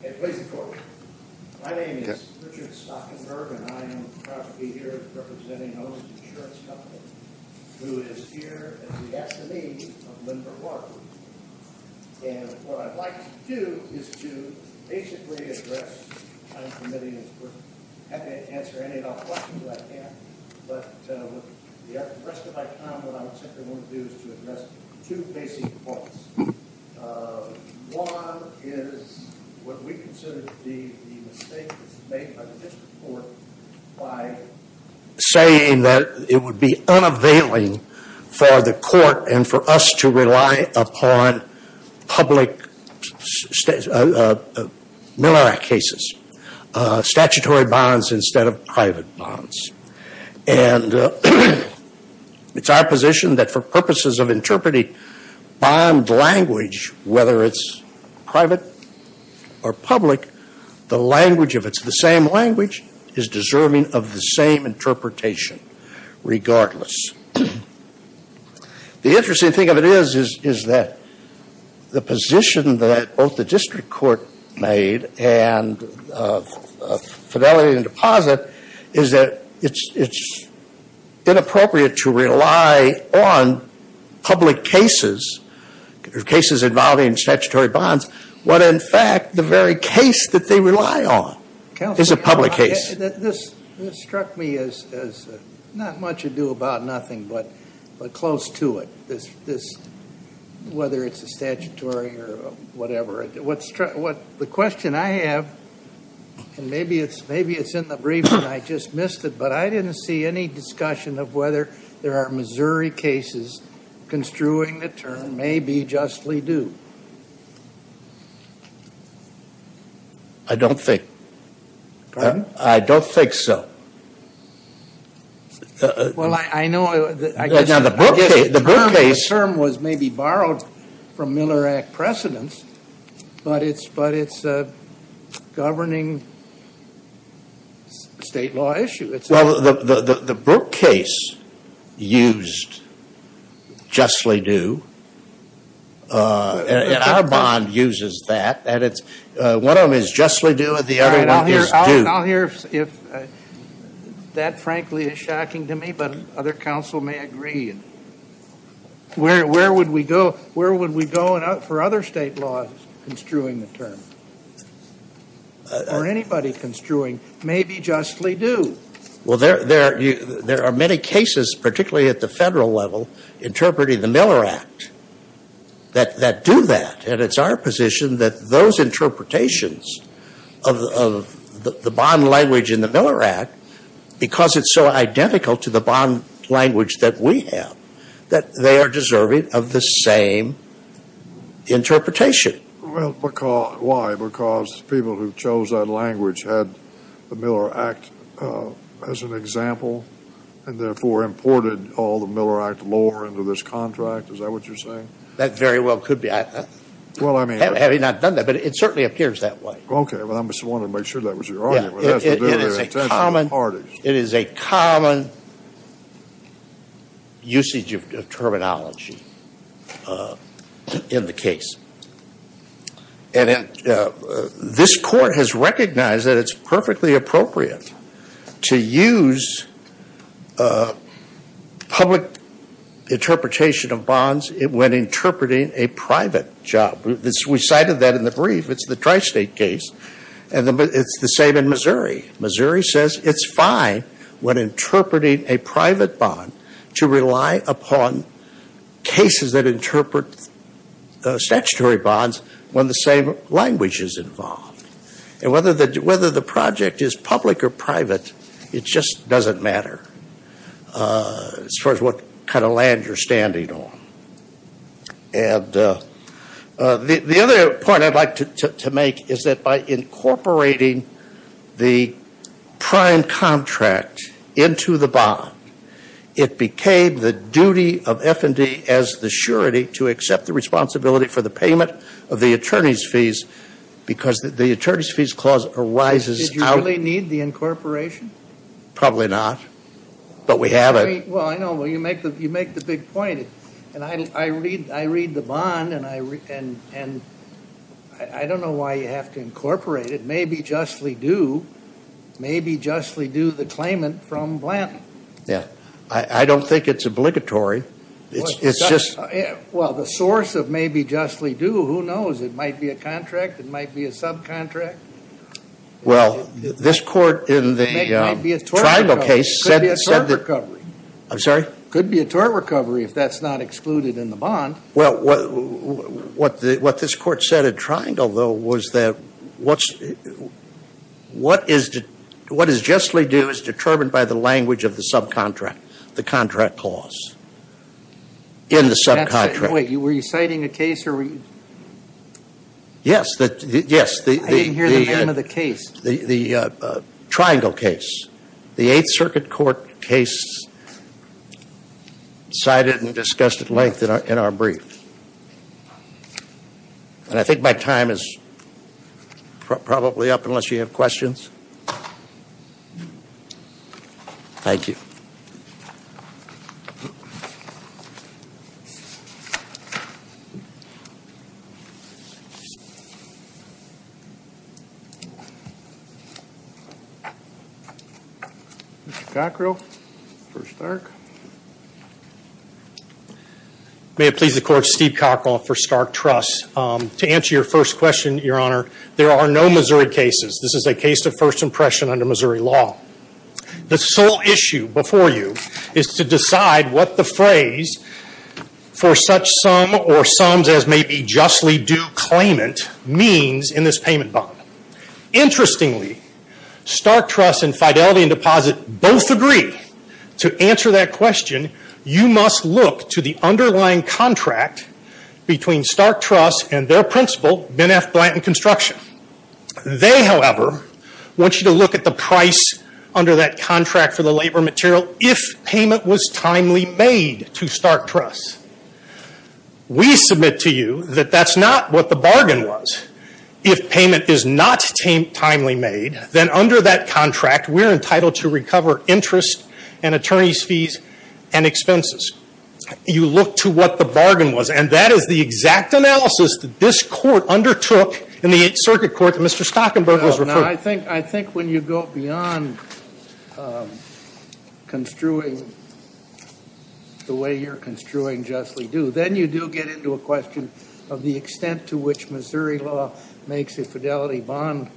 My name is Richard Stockenberg and I am proud to be here representing Owners Insurance Company, who is here at the academy of Lindbergh Law School. And what I'd like to do is to basically address, I'm committing as we're having to answer any and all questions I can, but the rest of my time what I want to do is to address two basic points. One is what we consider to be the mistake made by the district court by saying that it would be unavailing for the court and for us to rely upon public Miller Act cases, statutory bonds instead of private bonds. And it's our position that for purposes of interpreting bond language, whether it's private or public, the language, if it's the same language, is deserving of the same interpretation regardless. The interesting thing of it is that the position that both the district court made and Fidelity & Deposit is that it's inappropriate to rely on public cases, cases involving statutory bonds, when in fact the very case that they rely on is a public case. This struck me as not much ado about nothing but close to it, whether it's a statutory or whatever. The question I have, and maybe it's in the brief and I just missed it, but I didn't see any discussion of whether there are Missouri cases construing the term may be justly due. I don't think. Pardon? I don't think so. Well, I know. I guess the term was maybe borrowed from Miller Act precedence, but it's a governing state law issue. Well, the Brooke case used justly due, and our bond uses that. One of them is justly due and the other one is due. I'll hear if that frankly is shocking to me, but other counsel may agree. Where would we go for other state laws construing the term or anybody construing may be justly due? Well, there are many cases, particularly at the federal level, interpreting the Miller Act that do that, and it's our position that those interpretations of the bond language in the Miller Act, because it's so identical to the bond language that we have, that they are deserving of the same interpretation. Well, why? Because people who chose that language had the Miller Act as an example and therefore imported all the Miller Act lore into this contract? Is that what you're saying? That very well could be. Well, I mean. Having not done that, but it certainly appears that way. Okay. Well, I just wanted to make sure that was your argument. It has to do with intentional parties. It is a common usage of terminology in the case, and this Court has recognized that it's perfectly appropriate to use public interpretation of bonds when interpreting a private job. We cited that in the brief. It's the tri-state case, and it's the same in Missouri. Missouri says it's fine when interpreting a private bond to rely upon cases that interpret statutory bonds when the same language is involved. And whether the project is public or private, it just doesn't matter as far as what kind of land you're standing on. And the other point I'd like to make is that by incorporating the prime contract into the bond, it became the duty of F&D as the surety to accept the responsibility for the payment of the attorney's fees because the attorney's fees clause arises out. Did you really need the incorporation? Probably not, but we have it. Well, I know. Well, you make the big point, and I read the bond, and I don't know why you have to incorporate it. Maybe justly due, maybe justly due the claimant from Blanton. Yeah. I don't think it's obligatory. Well, the source of maybe justly due, who knows? It might be a contract. It might be a subcontract. Well, this Court in the tribal case said that. It could be a tort recovery. I'm sorry? It could be a tort recovery if that's not excluded in the bond. Well, what this Court said at Triangle, though, was that what is justly due is determined by the language of the subcontract, the contract clause in the subcontract. Wait, were you citing a case? Yes. I didn't hear the name of the case. The Triangle case. The Eighth Circuit Court case cited and discussed at length in our brief. And I think my time is probably up unless you have questions. Thank you. Mr. Cockrell for Stark. May it please the Court, Steve Cockrell for Stark Trust. To answer your first question, Your Honor, there are no Missouri cases. This is a case of first impression under Missouri law. The sole issue before you is to decide what the phrase for such sum or sums as may be justly due claimant means in this payment bond. Interestingly, Stark Trust and Fidelity and Deposit both agree. To answer that question, you must look to the underlying contract between Stark Trust and their principal, Ben F. Blanton Construction. They, however, want you to look at the price under that contract for the labor material if payment was timely made to Stark Trust. We submit to you that that's not what the bargain was. If payment is not timely made, then under that contract, we're entitled to recover interest and attorney's fees and expenses. You look to what the bargain was. And that is the exact analysis that this Court undertook in the Eighth Circuit Court that Mr. Stockenberg was referring to. I think when you go beyond construing the way you're construing justly due, then you do get into a question of the extent to which Missouri law makes a Fidelity bond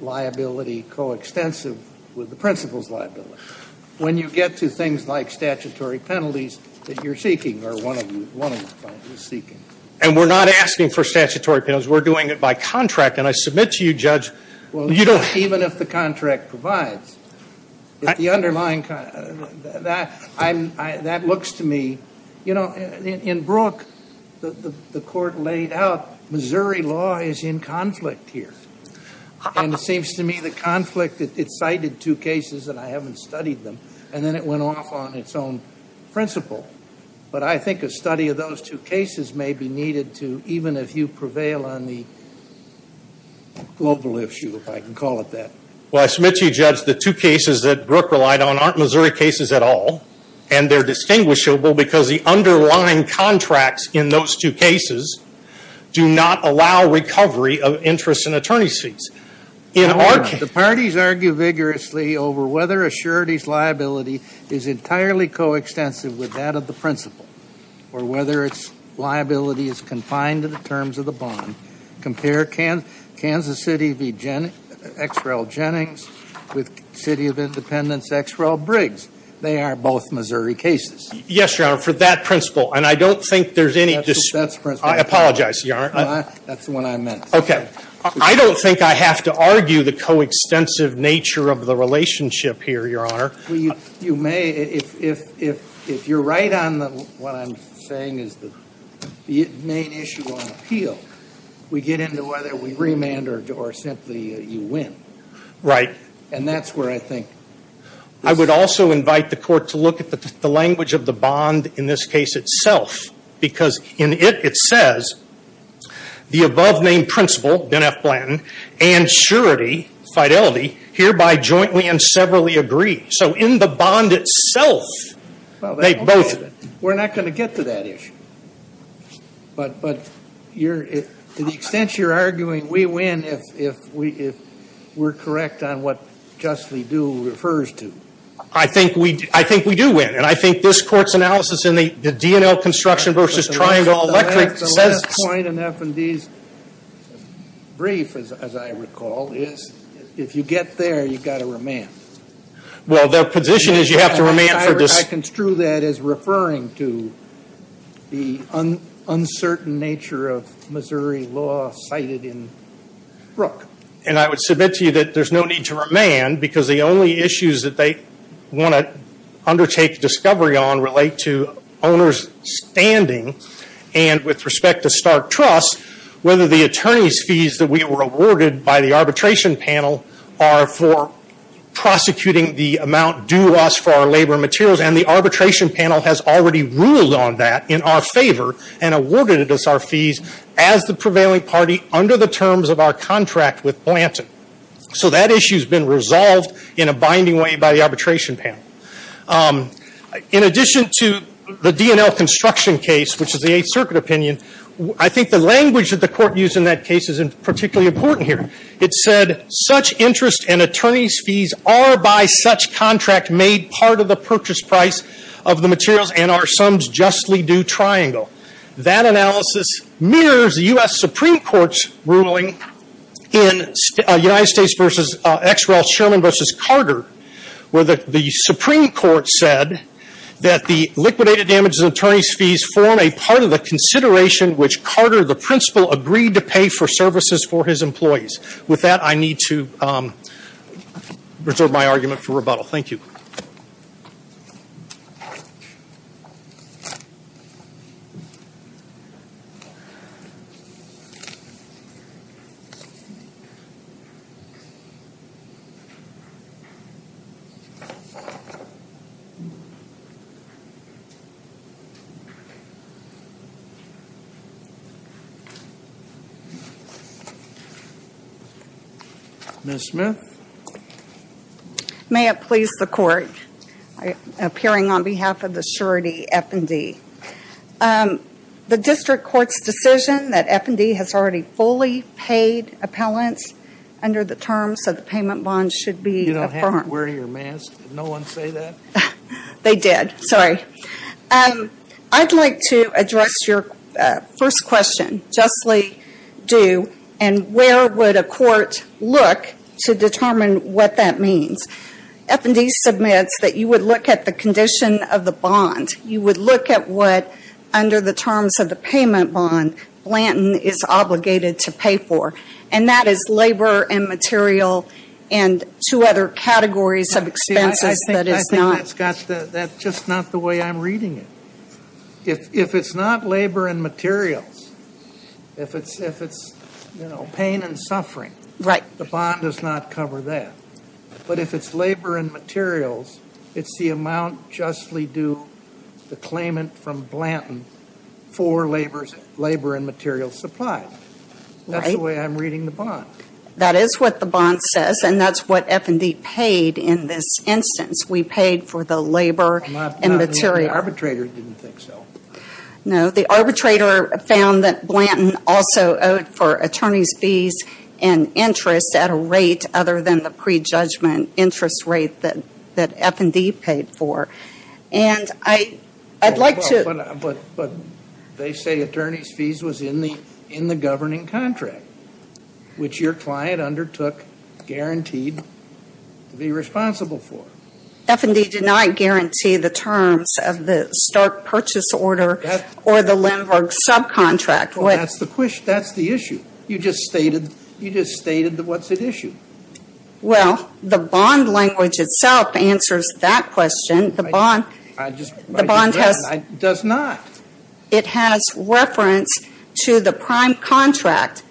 liability coextensive with the principal's liability. When you get to things like statutory penalties that you're seeking or one of you is seeking. And we're not asking for statutory penalties. We're doing it by contract. And I submit to you, Judge, you don't have to. Well, even if the contract provides, the underlying contract, that looks to me, you know, in Brook, the Court laid out Missouri law is in conflict here. And it seems to me the conflict, it cited two cases and I haven't studied them. And then it went off on its own principle. But I think a study of those two cases may be needed to, even if you prevail on the global issue, if I can call it that. Well, I submit to you, Judge, the two cases that Brook relied on aren't Missouri cases at all. And they're distinguishable because the underlying contracts in those two cases do not allow recovery of interest and attorney's fees. In our case. The parties argue vigorously over whether a surety's liability is entirely coextensive with that of the principal. Or whether its liability is confined to the terms of the bond. Compare Kansas City v. X. Rel. Jennings with City of Independence X. Rel. Briggs. They are both Missouri cases. Yes, Your Honor. For that principle. And I don't think there's any. That's the principle. I apologize, Your Honor. That's what I meant. Okay. I don't think I have to argue the coextensive nature of the relationship here, Your Honor. You may. If you're right on what I'm saying is the main issue on appeal, we get into whether we remand or simply you win. Right. And that's where I think. I would also invite the court to look at the language of the bond in this case itself. Because in it, it says, the above named principal, Ben F. Blanton, and surety, fidelity, hereby jointly and severally agree. So in the bond itself, they both. We're not going to get to that issue. But to the extent you're arguing we win if we're correct on what justly do refers to. I think we do win. And I think this court's analysis in the DNL construction versus triangle electric says. The last point in F&D's brief, as I recall, is if you get there, you've got to remand. Well, their position is you have to remand for this. I construe that as referring to the uncertain nature of Missouri law cited in Brooke. And I would submit to you that there's no need to remand. Because the only issues that they want to undertake discovery on relate to owner's standing. And with respect to Stark Trust, whether the attorney's fees that we were awarded by the arbitration panel are for prosecuting the amount due us for our labor materials. And the arbitration panel has already ruled on that in our favor. And awarded us our fees as the prevailing party under the terms of our contract with Blanton. So that issue's been resolved in a binding way by the arbitration panel. In addition to the DNL construction case, which is the Eighth Circuit opinion. I think the language that the court used in that case is particularly important here. It said, such interest and attorney's fees are by such contract made part of the purchase price of the materials. And are summed justly due triangle. That analysis mirrors the U.S. Supreme Court's ruling in United States v. XREL, Sherman v. Carter. Where the Supreme Court said that the liquidated damages and attorney's fees form a part of the consideration. Which Carter, the principal, agreed to pay for services for his employees. With that, I need to reserve my argument for rebuttal. Thank you. Ms. Smith. May it please the court. Appearing on behalf of the surety F&D. The district court's decision that F&D has already fully paid appellants under the terms of the payment bond should be affirmed. You don't have to wear your mask. Did no one say that? They did, sorry. I'd like to address your first question, justly due. And where would a court look to determine what that means? F&D submits that you would look at the condition of the bond. You would look at what, under the terms of the payment bond, Blanton is obligated to pay for. And that is labor and material and two other categories of expenses that is not. That's just not the way I'm reading it. If it's not labor and materials, if it's pain and suffering, the bond does not cover that. But if it's labor and materials, it's the amount justly due, the claimant from Blanton, for labor and material supply. That's the way I'm reading the bond. That is what the bond says and that's what F&D paid in this instance. We paid for the labor and material. The arbitrator didn't think so. No, the arbitrator found that Blanton also owed for attorney's fees and interest at a rate other than the prejudgment interest rate that F&D paid for. And I'd like to. But they say attorney's fees was in the governing contract, which your client undertook, guaranteed to be responsible for. F&D did not guarantee the terms of the Stark purchase order or the Lindbergh subcontract. That's the issue. You just stated what's at issue. Well, the bond language itself answers that question. The bond does not. It has reference to the prime contract,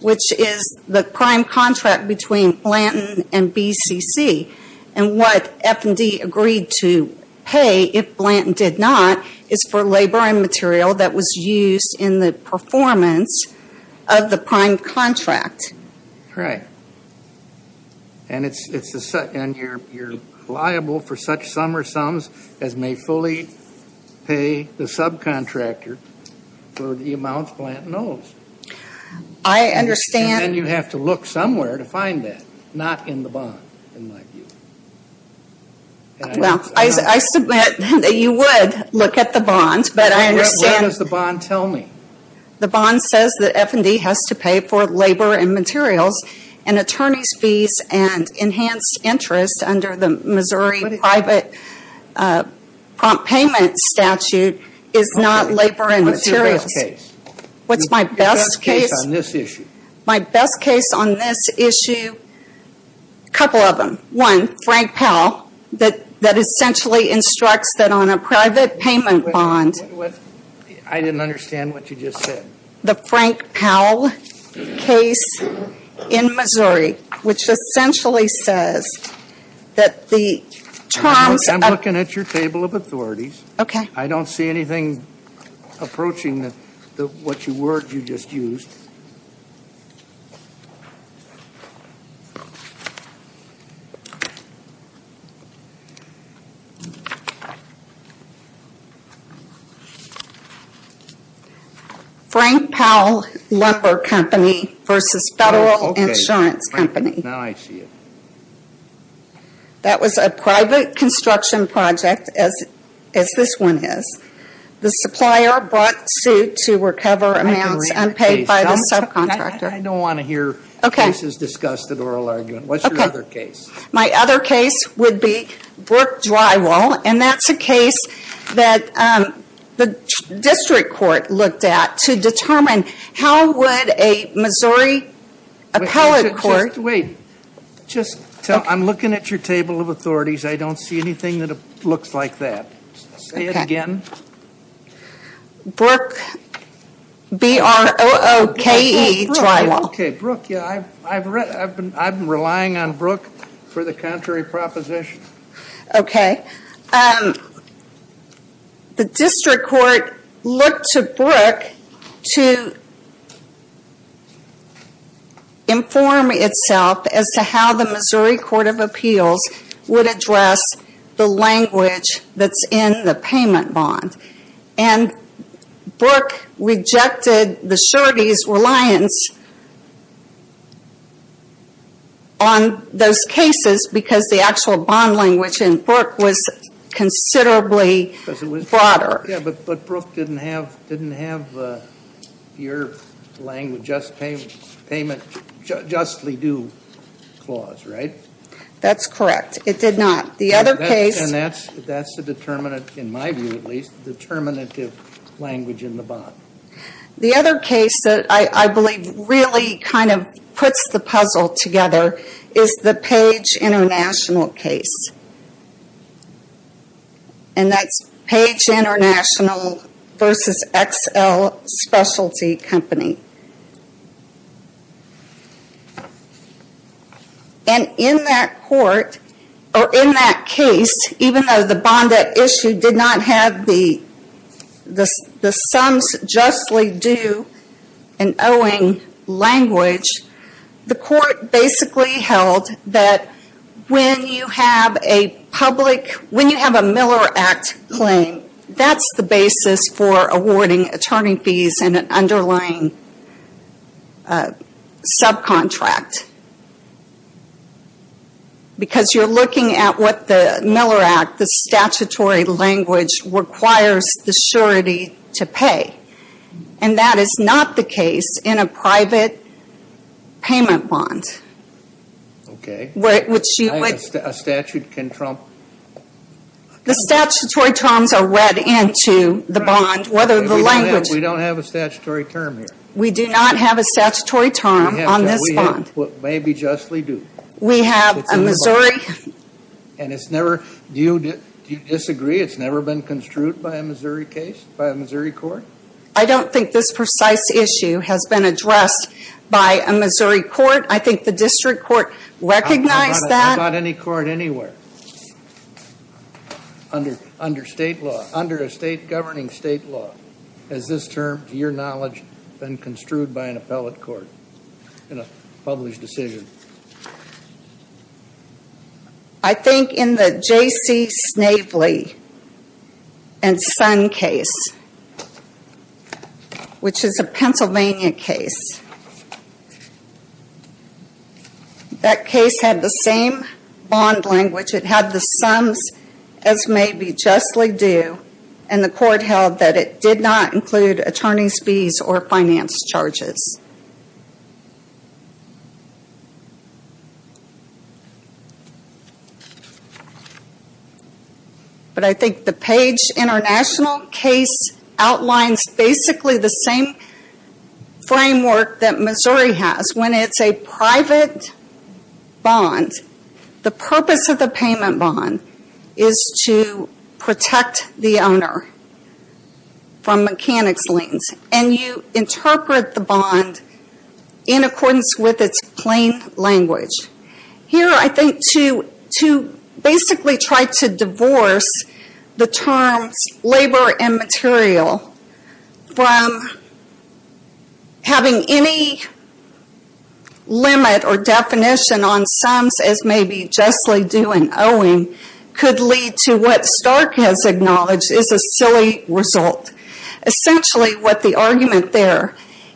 which is the prime contract between Blanton and BCC. And what F&D agreed to pay, if Blanton did not, is for labor and material that was used in the performance of the prime contract. Right. And you're liable for such sum or sums as may fully pay the subcontractor for the amounts Blanton owes. I understand. And then you have to look somewhere to find that, not in the bond, in my view. Well, I submit that you would look at the bond, but I understand. What does the bond tell me? The bond says that F&D has to pay for labor and materials, and attorney's fees and enhanced interest under the Missouri private prompt payment statute is not labor and materials. What's your best case? What's my best case? Your best case on this issue. My best case on this issue, a couple of them. One, Frank Powell, that essentially instructs that on a private payment bond. I didn't understand what you just said. The Frank Powell case in Missouri, which essentially says that the terms of... I'm looking at your table of authorities. Okay. I don't see anything approaching what you just used. Frank Powell Lumber Company versus Federal Insurance Company. Now I see it. That was a private construction project, as this one is. The supplier brought suit to recover amounts unpaid by the subcontractor. I don't want to hear cases discussed in oral argument. What's your other case? My other case would be Brook Drywall, and that's a case that the district court looked at to determine how would a Missouri appellate court... Wait. I'm looking at your table of authorities. I don't see anything that looks like that. Say it again. Brook, B-R-O-O-K-E, Drywall. Okay, Brook. I'm relying on Brook for the contrary proposition. Okay. The district court looked to Brook to inform itself as to how the Missouri Court of Appeals would address the language that's in the payment bond. And Brook rejected the surety's reliance on those cases because the actual bond language in Brook was considerably broader. Yeah, but Brook didn't have your payment justly due clause, right? That's correct. It did not. And that's the determinant, in my view at least, the determinative language in the bond. The other case that I believe really kind of puts the puzzle together is the Page International case. And that's Page International versus XL Specialty Company. And in that court, or in that case, even though the bond issue did not have the sums justly due and owing language, the court basically held that when you have a Miller Act claim, that's the basis for awarding attorney fees in an underlying subcontract. Because you're looking at what the Miller Act, the statutory language, requires the surety to pay. And that is not the case in a private payment bond. Okay. Which you would A statute can trump The statutory terms are read into the bond, whether the language We don't have a statutory term here. We do not have a statutory term on this bond. Maybe justly due. We have a Missouri And it's never, do you disagree it's never been construed by a Missouri case, by a Missouri court? I don't think this precise issue has been addressed by a Missouri court. I think the district court recognized that. Not any court anywhere. Under state law, under a state governing state law, has this term, to your knowledge, been construed by an appellate court in a published decision? I think in the J.C. Snavely and Son case, which is a Pennsylvania case, That case had the same bond language. It had the sums as may be justly due. And the court held that it did not include attorney's fees or finance charges. But I think the Page International case outlines basically the same framework that Missouri has. When it's a private bond, the purpose of the payment bond is to protect the owner from mechanics liens. And you interpret the bond in accordance with its plain language. Here I think to basically try to divorce the terms labor and material from having any limit or definition on sums as may be justly due and owing, Could lead to what Stark has acknowledged is a silly result. Essentially what the argument there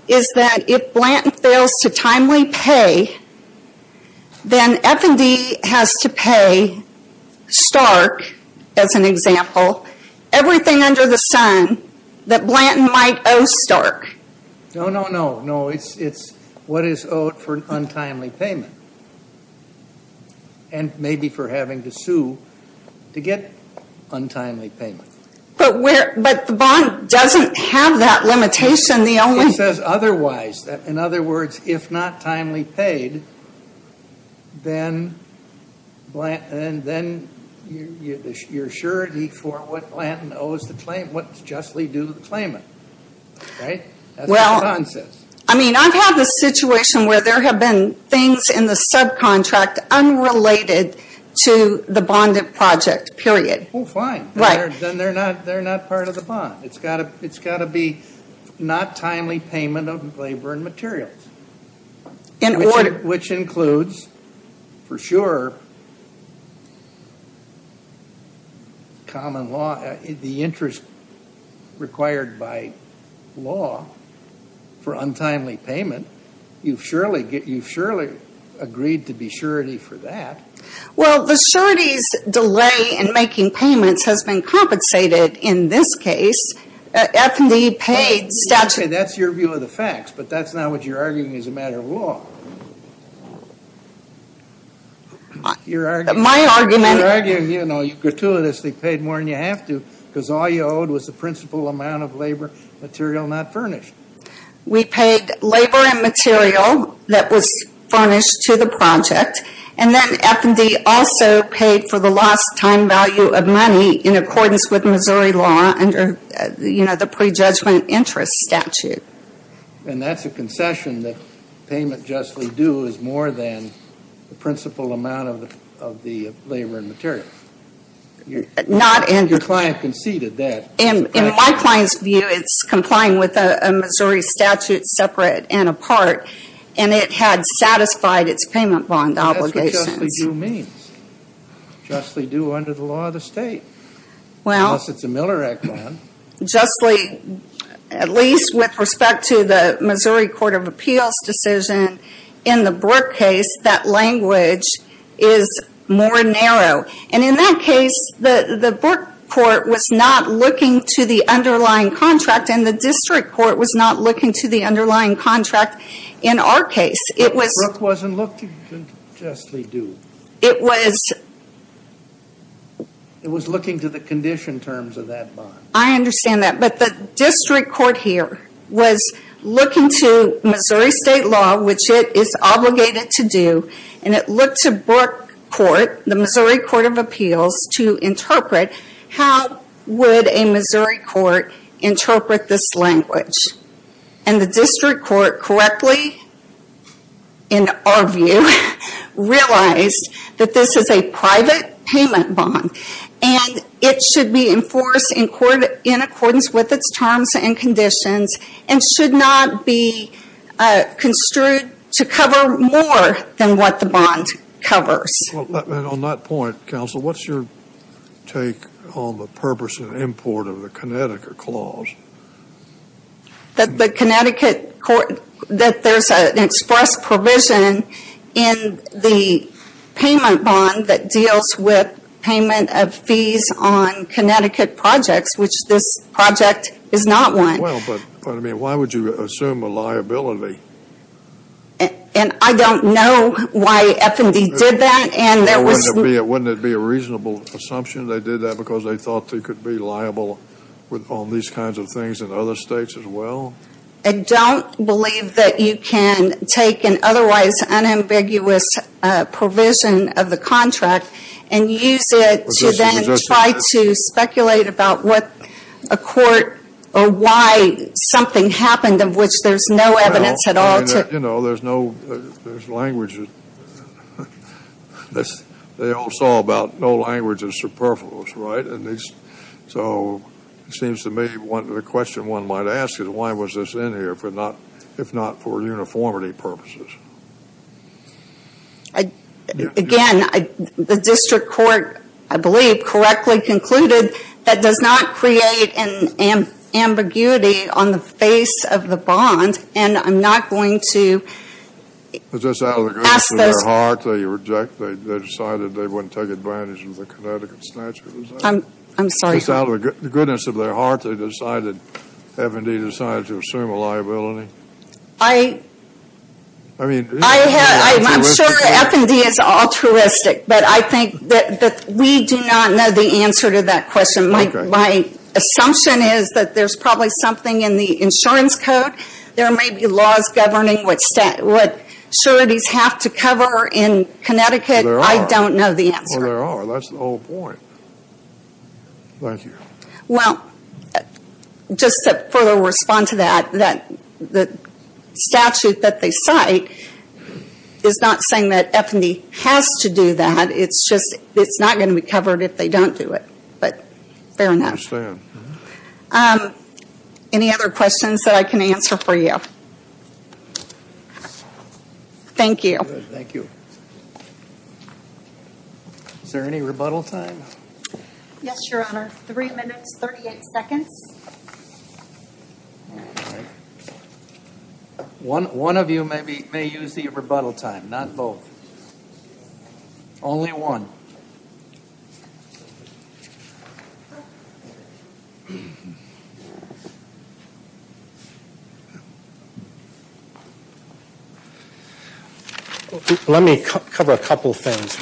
is that if Blanton fails to timely pay, then F&D has to pay Stark, as an example, everything under the sun that Blanton might owe Stark. No, no, no, no. It's what is owed for untimely payment. And maybe for having to sue to get untimely payment. But the bond doesn't have that limitation. It says otherwise. In other words, if not timely paid, then you're surety for what Blanton owes the claim, what's justly due to the claimant. That's what the bond says. I mean, I've had the situation where there have been things in the subcontract unrelated to the bonded project, period. Well, fine. Then they're not part of the bond. It's got to be not timely payment of labor and materials. In order. Which includes, for sure, common law, the interest required by law for untimely payment. You've surely agreed to be surety for that. Well, the surety's delay in making payments has been compensated in this case. F&D paid statute. Okay, that's your view of the facts, but that's not what you're arguing is a matter of law. My argument. You're arguing, you know, you gratuitously paid more than you have to because all you owed was the principal amount of labor material not furnished. We paid labor and material that was furnished to the project. And then F&D also paid for the lost time value of money in accordance with Missouri law under, you know, the prejudgment interest statute. And that's a concession that payment justly due is more than the principal amount of the labor and material. Not in. Your client conceded that. In my client's view, it's complying with a Missouri statute separate and apart. And it had satisfied its payment bond obligations. That's what justly due means. Justly due under the law of the state. Well. Unless it's a Miller Act bond. Justly, at least with respect to the Missouri Court of Appeals decision in the Burke case, that language is more narrow. And in that case, the Burke court was not looking to the underlying contract and the district court was not looking to the underlying contract in our case. It was. Brooke wasn't looking to justly due. It was. It was looking to the condition terms of that bond. I understand that. But the district court here was looking to Missouri state law, which it is obligated to do. And it looked to Burke court, the Missouri Court of Appeals, to interpret how would a Missouri court interpret this language. And the district court correctly, in our view, realized that this is a private payment bond. And it should be enforced in accordance with its terms and conditions and should not be construed to cover more than what the bond covers. On that point, counsel, what's your take on the purpose of import of the Connecticut clause? That the Connecticut court, that there's an express provision in the payment bond that deals with payment of fees on Connecticut projects, which this project is not one. Well, but I mean, why would you assume a liability? And I don't know why F&D did that. Wouldn't it be a reasonable assumption they did that because they thought they could be liable on these kinds of things in other states as well? I don't believe that you can take an otherwise unambiguous provision of the contract and use it to then try to speculate about what a court or why something happened of which there's no evidence at all. I mean, you know, there's no language. They all saw about no language is superfluous, right? So it seems to me the question one might ask is why was this in here if not for uniformity purposes? Again, the district court, I believe, correctly concluded that does not create an ambiguity on the face of the bond. And I'm not going to ask this. But just out of the goodness of their heart, they reject, they decided they wouldn't take advantage of the Connecticut statute, is that it? I'm sorry. Just out of the goodness of their heart, they decided, F&D decided to assume a liability? I'm sure F&D is altruistic, but I think that we do not know the answer to that question. My assumption is that there's probably something in the insurance code. There may be laws governing what sureties have to cover in Connecticut. There are. I don't know the answer. Well, there are. That's the whole point. Thank you. Well, just to further respond to that, the statute that they cite is not saying that F&D has to do that. It's just it's not going to be covered if they don't do it. But fair enough. I understand. Any other questions that I can answer for you? Thank you. Thank you. Is there any rebuttal time? Yes, Your Honor. Three minutes, 38 seconds. One of you may use the rebuttal time, not both. Only one. Let me cover a couple of things.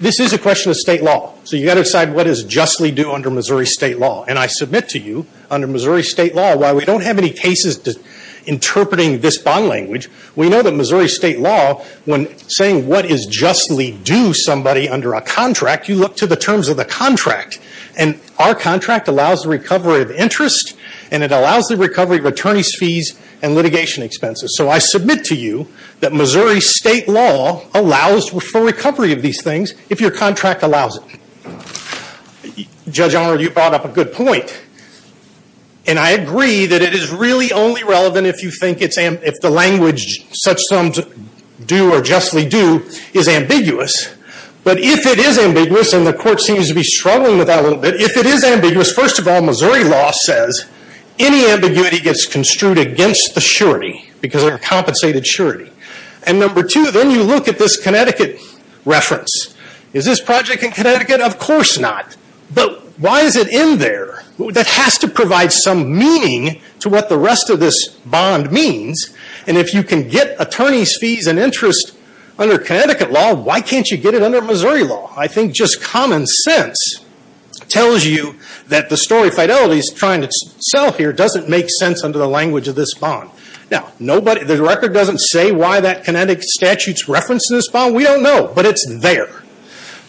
This is a question of state law. So you've got to decide what is justly due under Missouri state law. And I submit to you, under Missouri state law, while we don't have any cases interpreting this bond language, we know that Missouri state law, when saying what is justly due somebody under a contract, you look to the terms of the contract. And our contract allows the recovery of interest, and it allows the recovery of attorney's fees and litigation expenses. So I submit to you that Missouri state law allows for recovery of these things if your contract allows it. Judge Arnold, you brought up a good point. And I agree that it is really only relevant if you think the language such terms do or justly do is ambiguous. But if it is ambiguous, and the court seems to be struggling with that a little bit, if it is ambiguous, first of all, Missouri law says any ambiguity gets construed against the surety, because they're a compensated surety. And number two, then you look at this Connecticut reference. Is this project in Connecticut? Of course not. But why is it in there? That has to provide some meaning to what the rest of this bond means. And if you can get attorney's fees and interest under Connecticut law, why can't you get it under Missouri law? I think just common sense tells you that the story Fidelity is trying to sell here doesn't make sense under the language of this bond. Now, the record doesn't say why that Connecticut statute's referenced in this bond. We don't know, but it's there.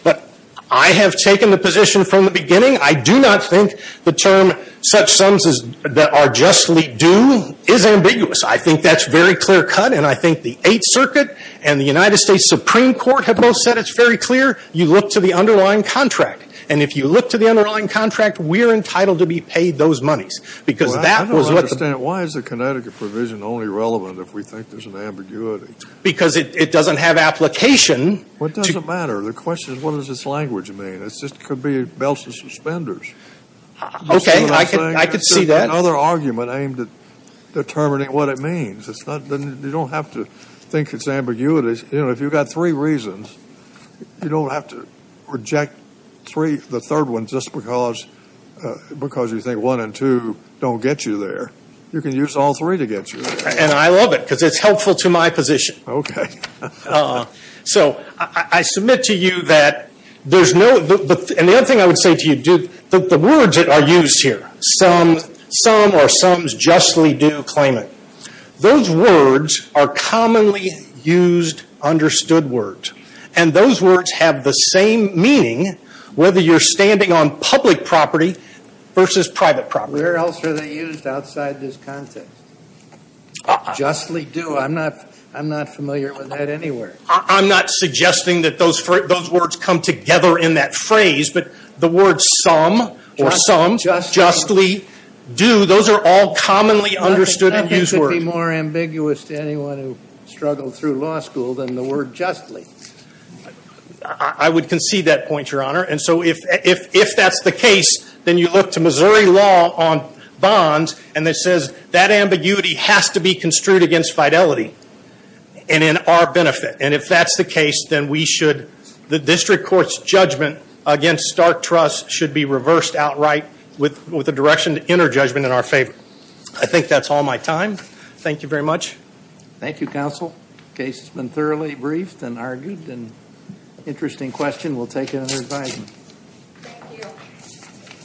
But I have taken the position from the beginning. I do not think the term such sums that are justly do is ambiguous. I think that's very clear cut, and I think the Eighth Circuit and the United States Supreme Court have both said it's very clear. You look to the underlying contract. And if you look to the underlying contract, we're entitled to be paid those monies, because that was what the ---- Well, I don't understand. Why is the Connecticut provision only relevant if we think there's an ambiguity? Because it doesn't have application to ---- Well, it doesn't matter. The question is, what does this language mean? It just could be belts and suspenders. Okay. I could see that. It's just another argument aimed at determining what it means. It's not going to ---- you don't have to think it's ambiguity. You know, if you've got three reasons, you don't have to reject three, the third one, just because you think one and two don't get you there. You can use all three to get you there. And I love it, because it's helpful to my position. Okay. So I submit to you that there's no ---- and the other thing I would say to you, the words that are used here, some or sums justly do claimant, those words are commonly used understood words. And those words have the same meaning whether you're standing on public property versus private property. Where else are they used outside this context? Justly do. I'm not familiar with that anywhere. I'm not suggesting that those words come together in that phrase. But the words some or sums justly do, those are all commonly understood and used words. I think that would be more ambiguous to anyone who struggled through law school than the word justly. I would concede that point, Your Honor. And so if that's the case, then you look to Missouri law on bonds, and it says that ambiguity has to be construed against fidelity and in our benefit. And if that's the case, then we should, the district court's judgment against stark trust should be reversed outright with a direction to inner judgment in our favor. I think that's all my time. Thank you very much. Thank you, Counsel. Case has been thoroughly briefed and argued, and interesting question. We'll take it under advisement. Thank you.